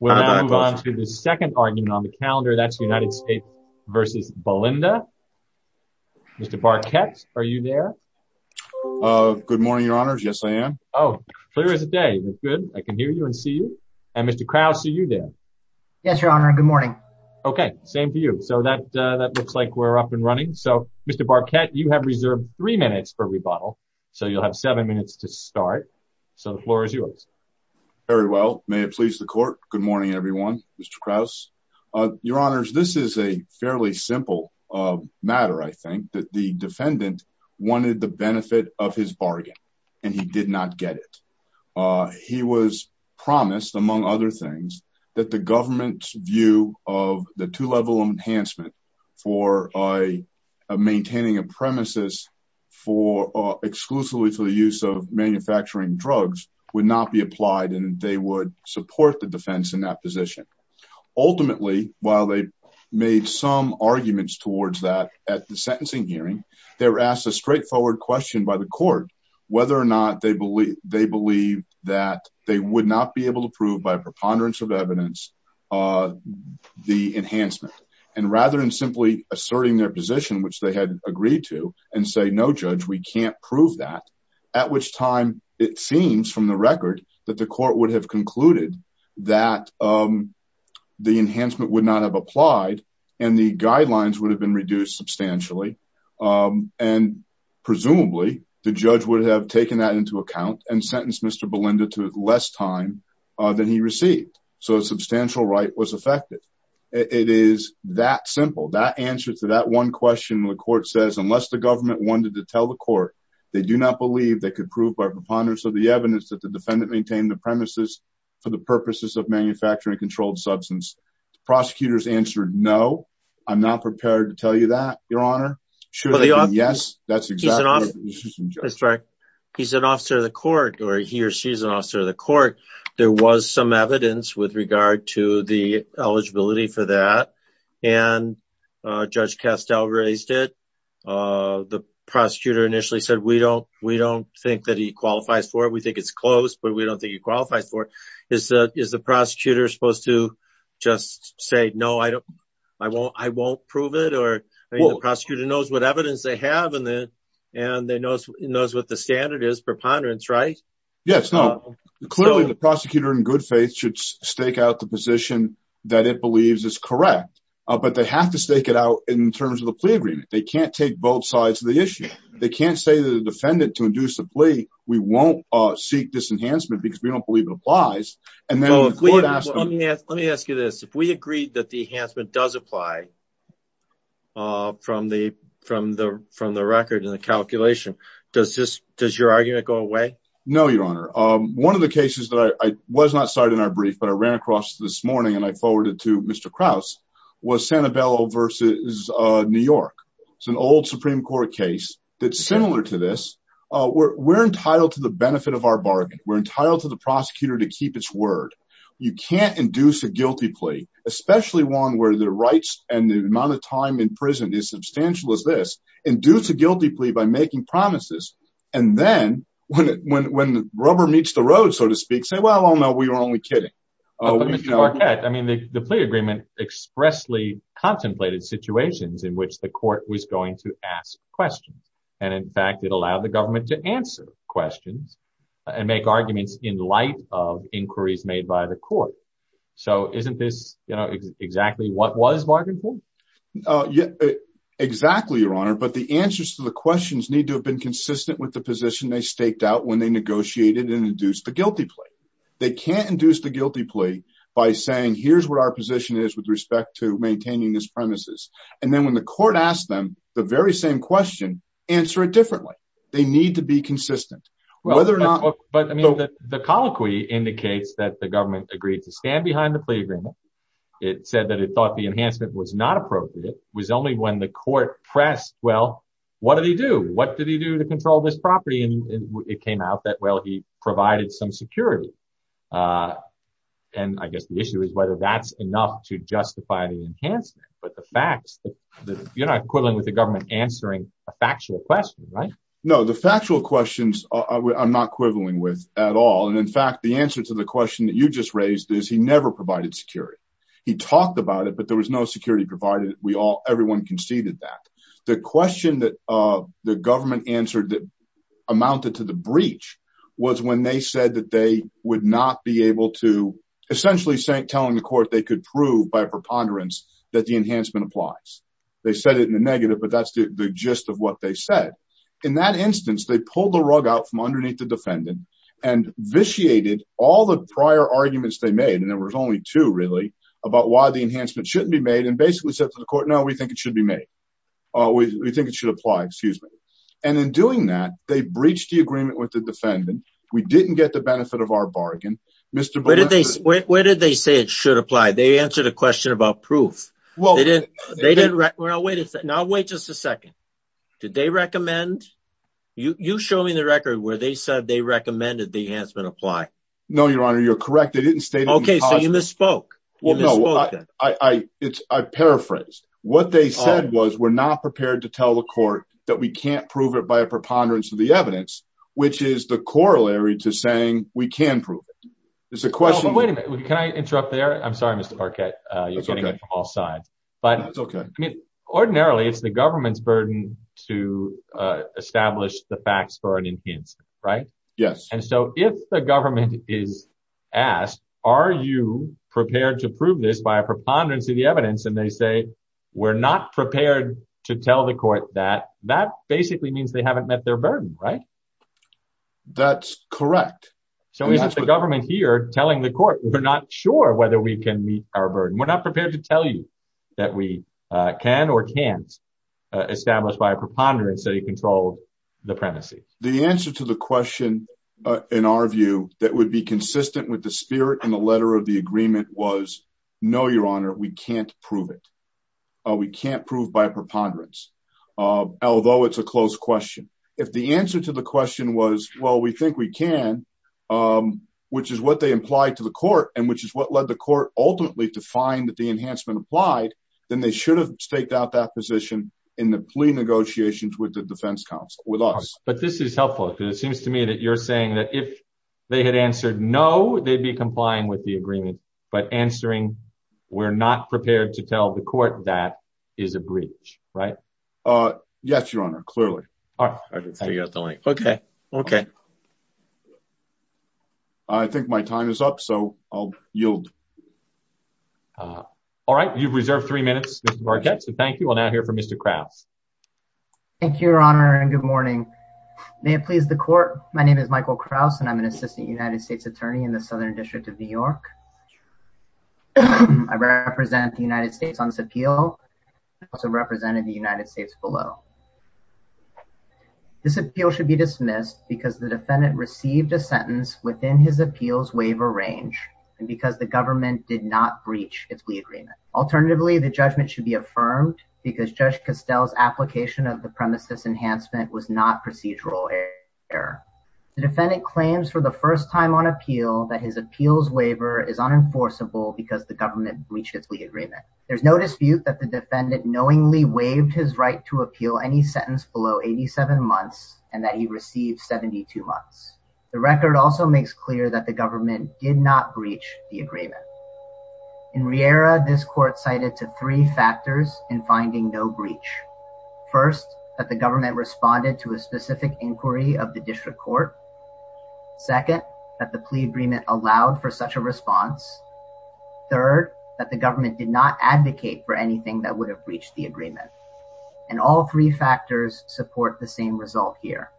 We're going to move on to the second argument on the calendar, that's the United States versus Belinda. Mr. Barquette, are you there? Uh, good morning, your honors. Yes, I am. Oh, clear as a day. That's good. I can hear you and see you. And Mr. Krause, are you there? Yes, your honor. Good morning. Okay, same for you. So that looks like we're up and running. So Mr. Barquette, you have reserved three minutes for rebuttal. So you'll have seven minutes to start. So the floor is yours. Very well, may it please the court. Good morning, everyone. Mr. Krause. Your honors, this is a fairly simple matter, I think, that the defendant wanted the benefit of his bargain, and he did not get it. He was promised, among other things, that the government's view of the two-level enhancement for a maintaining a premises for exclusively for the use of manufacturing drugs would not be applied, and they would support the defense in that position. Ultimately, while they made some arguments towards that at the sentencing hearing, they were asked a straightforward question by the court whether or not they believe that they would not be able to prove by preponderance of evidence the enhancement. And rather than simply asserting their position, which they had agreed to, and say, no, judge, we can't prove that, at which time it seems, from the record, that the court would have concluded that the enhancement would not have applied, and the guidelines would have been reduced substantially. And presumably, the judge would have taken that into account and sentenced Mr. Belinda to less time than he received. So a substantial right was affected. It is that simple. That answer to that one question, the court says, unless the government wanted to tell the court, they do not believe they could prove by preponderance of the evidence that the defendant maintained the premises for the purposes of manufacturing controlled substance. Prosecutors answered, no, I'm not prepared to tell you that, your honor. Yes, that's exactly right. He's an officer of the court, or he or she is an officer of the court. There was some evidence with regard to the eligibility for that, and Judge Castell raised it. The prosecutor initially said, we don't think that he qualifies for it. We think it's close, but we don't think he qualifies for it. Is the prosecutor supposed to just say, no, I won't prove it? Or the prosecutor knows what evidence they have, and he knows what the standard is, preponderance, right? Yes, no. Clearly, the prosecutor in good position that it believes is correct, but they have to stake it out in terms of the plea agreement. They can't take both sides of the issue. They can't say to the defendant to induce a plea, we won't seek this enhancement because we don't believe it applies. Let me ask you this. If we agreed that the enhancement does apply from the record and the calculation, does your argument go away? No, Your Honor. One of the cases that I was not cited in our brief, but I ran across this morning and I forwarded to Mr. Krause was Santabella versus New York. It's an old Supreme Court case that's similar to this. We're entitled to the benefit of our bargain. We're entitled to the prosecutor to keep its word. You can't induce a guilty plea, especially one where the rights and the amount of time in prison is substantial as this, induce a guilty plea by making promises. Then when the rubber meets the road, so to speak, say, well, no, we were only kidding. The plea agreement expressly contemplated situations in which the court was going to ask questions. In fact, it allowed the government to answer questions and make arguments in light of inquiries made by the court. Isn't this exactly what was bargained for? Yeah, exactly, Your Honor. But the answers to the questions need to have been consistent with the position they staked out when they negotiated and induced the guilty plea. They can't induce the guilty plea by saying, here's what our position is with respect to maintaining this premises. And then when the court asked them the very same question, answer it differently. They need to be consistent. Whether or not. But the colloquy indicates that the government agreed to stand behind the plea agreement. It said that it thought the enhancement was not appropriate. It was only when the court pressed, well, what did he do? What did he do to control this property? And it came out that, well, he provided some security. And I guess the issue is whether that's enough to justify the enhancement. But the facts that you're not quibbling with the government answering a factual question, right? No, the factual questions I'm not quibbling with at all. And in fact, the answer to the question that you just raised is he never provided security. He talked about it, but there was no security provided. We all everyone conceded that the question that the government answered that amounted to the breach was when they said that they would not be able to essentially saying telling the court they could prove by preponderance that the enhancement applies. They said it in the negative, but that's the gist of what they said. In that instance, they pulled the rug out from underneath the defendant and vitiated all the really about why the enhancement shouldn't be made and basically said to the court, no, we think it should be made. We think it should apply, excuse me. And in doing that, they breached the agreement with the defendant. We didn't get the benefit of our bargain, Mr. Where did they say it should apply? They answered a question about proof. Well, they didn't. They didn't. Well, wait a second. Now, wait just a second. Did they recommend you show me the record where they said they recommended the enhancement apply? No, your honor, you're correct. They didn't stay. Okay. So you misspoke? Well, no, I, I, it's, I paraphrased what they said was, we're not prepared to tell the court that we can't prove it by a preponderance of the evidence, which is the corollary to saying we can prove it. It's a question. Wait a minute. Can I interrupt there? I'm sorry, Mr. Parkett, you're getting it from all sides, but ordinarily it's the government's burden to establish the is asked, are you prepared to prove this by a preponderance of the evidence? And they say, we're not prepared to tell the court that that basically means they haven't met their burden, right? That's correct. So is it the government here telling the court? We're not sure whether we can meet our burden. We're not prepared to tell you that we can or can't establish by a preponderance of the evidence. The answer to the question in our view that would be consistent with the spirit and the letter of the agreement was no, your honor, we can't prove it. We can't prove by a preponderance, although it's a close question. If the answer to the question was, well, we think we can, which is what they implied to the court and which is what led the court ultimately to find that the enhancement applied, then they should have staked out that position in the plea negotiations with the defense council with us. But this is helpful because it seems to me that you're saying that if they had answered no, they'd be complying with the agreement, but answering we're not prepared to tell the court that is a breach, right? Uh, yes, your honor. Clearly. All right. Okay. Okay. I think my time is up, so I'll yield. Uh, all right. You've reserved three minutes, so thank you. We'll now hear from Mr Krauss. Thank you, your honor, and good morning. May it please the court. My name is Michael Krauss, and I'm an assistant United States attorney in the Southern District of New York. I represent the United States on this appeal, also represented the United States below. This appeal should be dismissed because the defendant received a sentence within his appeals waiver range and because the government did not breach its agreement. Alternatively, the judgment should be affirmed because Judge Costell's application of the premises enhancement was not procedural error. The defendant claims for the first time on appeal that his appeals waiver is unenforceable because the government breaches the agreement. There's no dispute that the defendant knowingly waived his right to appeal any sentence below 87 months and that he received 72 months. The record also makes clear that the government did not breach the agreement. In Riera, this court cited to three factors in finding no breach. First, that the government responded to a specific inquiry of the district court. Second, that the plea agreement allowed for such a response. Third, that the government did not advocate for anything that would have breached the agreement. And all three factors support the same result here.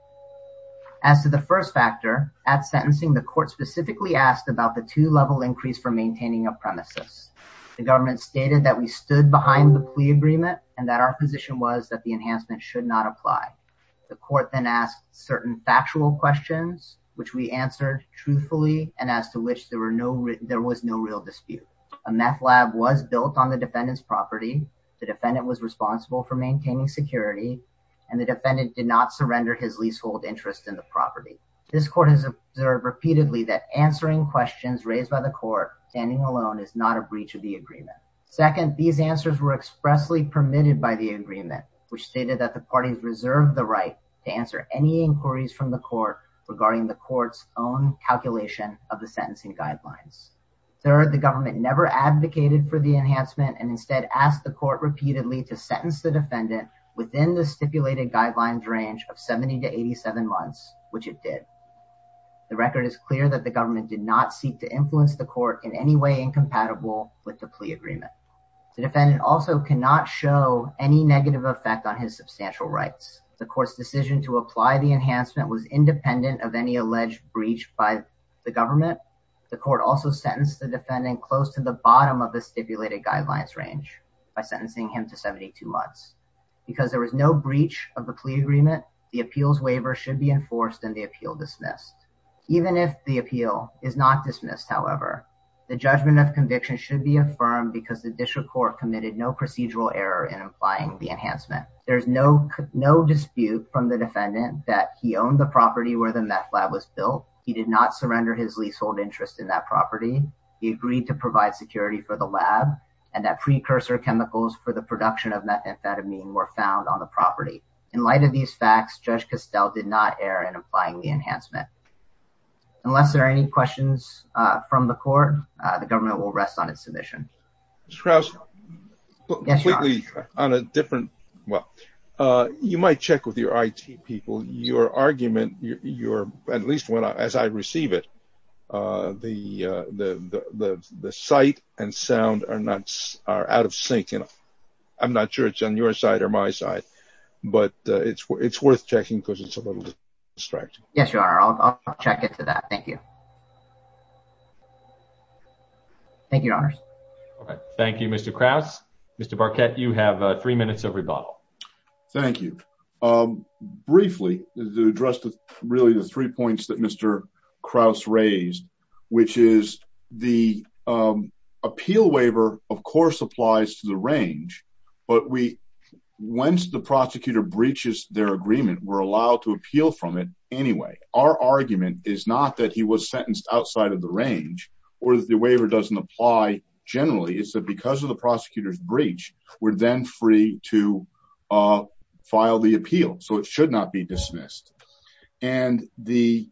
As to the first factor, at sentencing, the court specifically asked about the two-level increase for maintaining a premises. The government stated that we stood behind the plea agreement and that our position was that the enhancement should not apply. The court then asked certain factual questions, which we answered truthfully and as to which there was no real dispute. A meth lab was built on the defendant's property. The defendant was in the property. This court has observed repeatedly that answering questions raised by the court standing alone is not a breach of the agreement. Second, these answers were expressly permitted by the agreement, which stated that the parties reserved the right to answer any inquiries from the court regarding the court's own calculation of the sentencing guidelines. Third, the government never advocated for the enhancement and instead asked the court which it did. The record is clear that the government did not seek to influence the court in any way incompatible with the plea agreement. The defendant also cannot show any negative effect on his substantial rights. The court's decision to apply the enhancement was independent of any alleged breach by the government. The court also sentenced the defendant close to the bottom of the stipulated guidelines range by sentencing him to 72 months. Because there was no breach of the plea agreement, the appeals waiver should be enforced and the appeal dismissed. Even if the appeal is not dismissed, however, the judgment of conviction should be affirmed because the district court committed no procedural error in applying the enhancement. There's no dispute from the defendant that he owned the property where the meth lab was built. He did not surrender his leasehold interest in that property. He agreed to provide security for the lab and that precursor chemicals for the production of methamphetamine were found on the property. In light of these facts, Judge Costell did not err in applying the enhancement. Unless there are any questions from the court, the government will rest on its submission. Mr. Krause, you might check with your IT people. Your argument, at least as I receive it, the sight and sound are out of sync. I'm not sure it's on your side or my side, but it's worth checking because it's a little distracting. Yes, you are. I'll check into that. Thank you. Thank you, Your Honors. Thank you, Mr. Krause. Mr. Barkett, you have three minutes of rebuttal. Thank you. Briefly, to address really the three points that Mr. Krause raised, which is the appeal waiver, of course, applies to the range, but once the prosecutor breaches their agreement, we're allowed to appeal from it anyway. Our argument is not that he was sentenced outside of the range or that the waiver doesn't apply generally. It's that because of the prosecutor's breach, we're then free to file the appeal, so it should not be dismissed. And the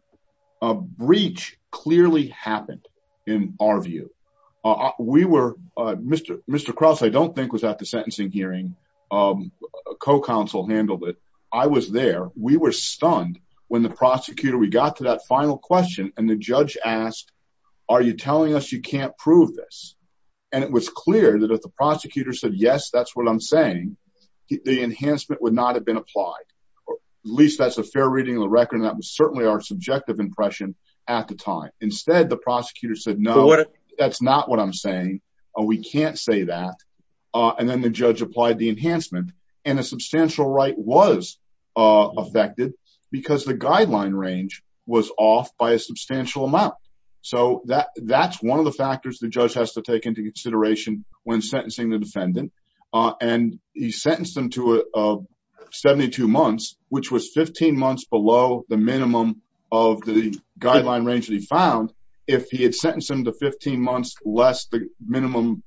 breach clearly happened in our view. Mr. Krause, I don't think was at the sentencing hearing. A co-counsel handled it. I was there. We were stunned when the prosecutor, we got to that final question and the judge asked, are you telling us you can't prove this? And it was clear that if the prosecutor said, yes, that's what I'm saying, the enhancement would not have been applied. At least that's a fair reading of the record. And that was certainly our subjective impression at the time. Instead, the prosecutor said, no, that's not what I'm saying. We can't say that. And then the judge applied the enhancement and a substantial right was affected because the guideline range was off by a substantial amount. So that's one of the factors the judge has to take into consideration when sentencing the defendant. And he sentenced him to 72 months, which was 15 months below the minimum of the guideline range that he found. If he had sentenced him to 15 months less the minimum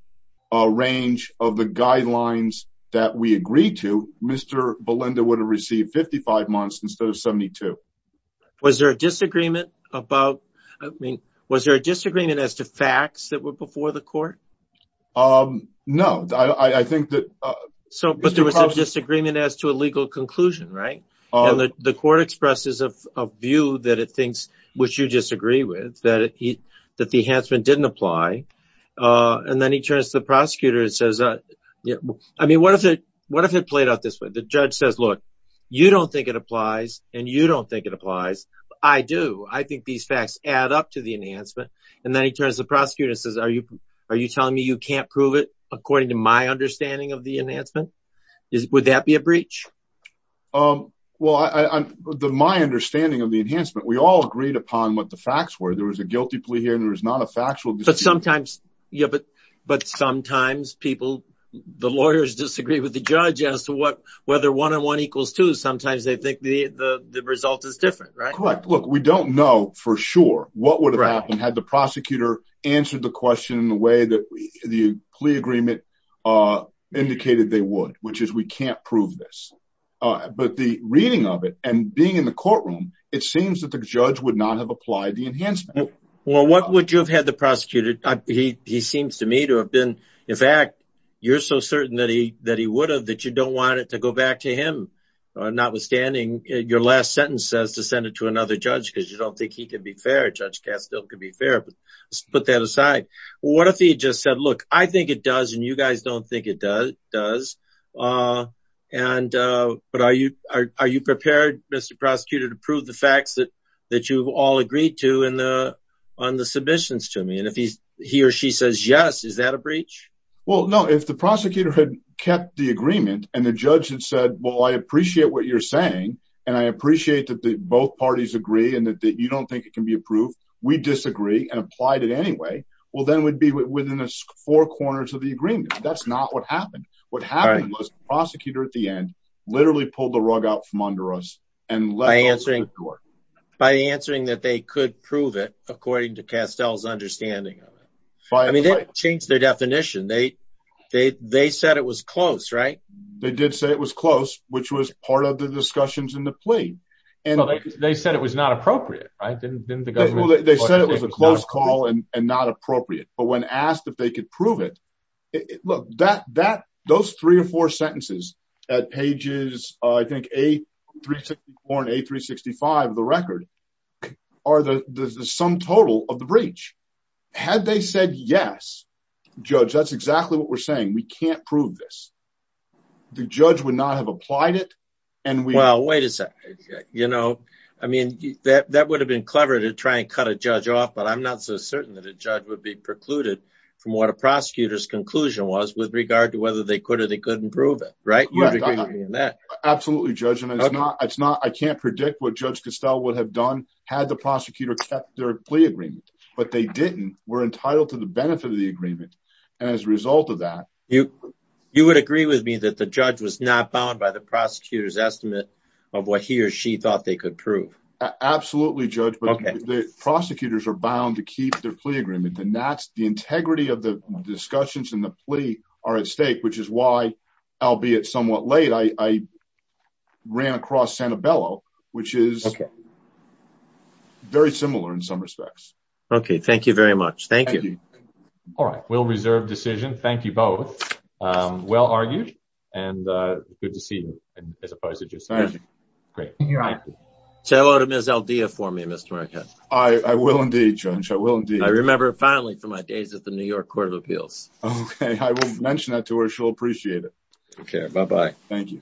range of the guidelines that we agreed to, Mr. Belinda would have received 55 months instead of 72. Was there a disagreement about, I mean, was there a disagreement as to facts that were before the court? No. But there was a disagreement as to a legal conclusion, right? And the court expresses a view that it thinks, which you disagree with, that the enhancement didn't apply. And then he turns to the prosecutor and says, I mean, what if it played out this way? The judge says, look, you don't think it applies and you don't think it applies. I do. I think these facts add up to the enhancement. And then he turns to the prosecutor and says, are you telling me you can't prove it according to my understanding of the enhancement? Would that be a breach? Well, my understanding of the enhancement, we all agreed upon what the facts were. There was a guilty plea here and there was not a factual. But sometimes, yeah, but sometimes people, the lawyers disagree with the judge as to what, whether one on one equals two, sometimes they think the result is different, right? Look, we don't know for sure what would have happened had the prosecutor answered the question in the way that the plea agreement indicated they would, which is we can't prove this. But the reading of it and being in the courtroom, it seems that the judge would not have applied the enhancement. Well, what would you have had the prosecutor? He seems to me to have been. In fact, you're so certain that he that he would have that you don't want it to go back to him. Notwithstanding, your last sentence says to send it to another judge because you don't think he could be fair. Judge Castile could be fair. But let's put that aside. What if he just said, look, I think it does. And you guys don't think it does. And but are you are you prepared, Mr. Prosecutor, to prove the facts that that you've all agreed to in the on the submissions to me? And if he's he or she says yes, is that a breach? Well, no, if the prosecutor had kept the agreement and the judge had said, well, I appreciate what you're saying and I appreciate that both parties agree and that you don't think it can be approved. We disagree and applied it anyway. Well, then we'd be within four corners of the agreement. That's not what happened. What happened was the prosecutor at the end literally pulled the rug out from under us and by answering by answering that they could prove it, according to Castile's understanding I mean, they changed their definition. They they they said it was close, right? They did say it was close, which was part of the discussions in the plea. And they said it was not appropriate. I didn't think they said it was a close call and not appropriate. But when asked if they could prove it, look, that that those three or four sentences at pages, I think, a 364 and a 365 of the record are the sum total of the breach. Had they said, yes, judge, that's exactly what we're saying. We can't prove this. The judge would not have applied it. And well, wait a sec, you know, I mean, that that would have been clever to try and cut a judge off. But I'm not so certain that a judge would be precluded from what a prosecutor's conclusion was with regard to whether they could or they couldn't prove it. Right. Absolutely, judge. And it's not it's not I can't predict what Judge Castile would have done had the prosecutor kept their plea agreement, but they didn't were entitled to the benefit of the agreement. And as a result of that, you you would agree with me that the judge was not bound by the prosecutor's estimate of what he or she thought they could prove. Absolutely. Judge, the prosecutors are bound to keep their plea agreement. And that's the albeit somewhat late. I ran across Sanibello, which is very similar in some respects. OK, thank you very much. Thank you. All right. Will reserve decision. Thank you both. Well argued. And good to see you as a prosecutor. Great. Say hello to Ms. Aldea for me, Mr. Marquette. I will indeed, Judge. I will indeed. I remember finally from my days at the New York Court of Appeals. I will mention that to her. She'll appreciate it. OK, bye bye. Thank you.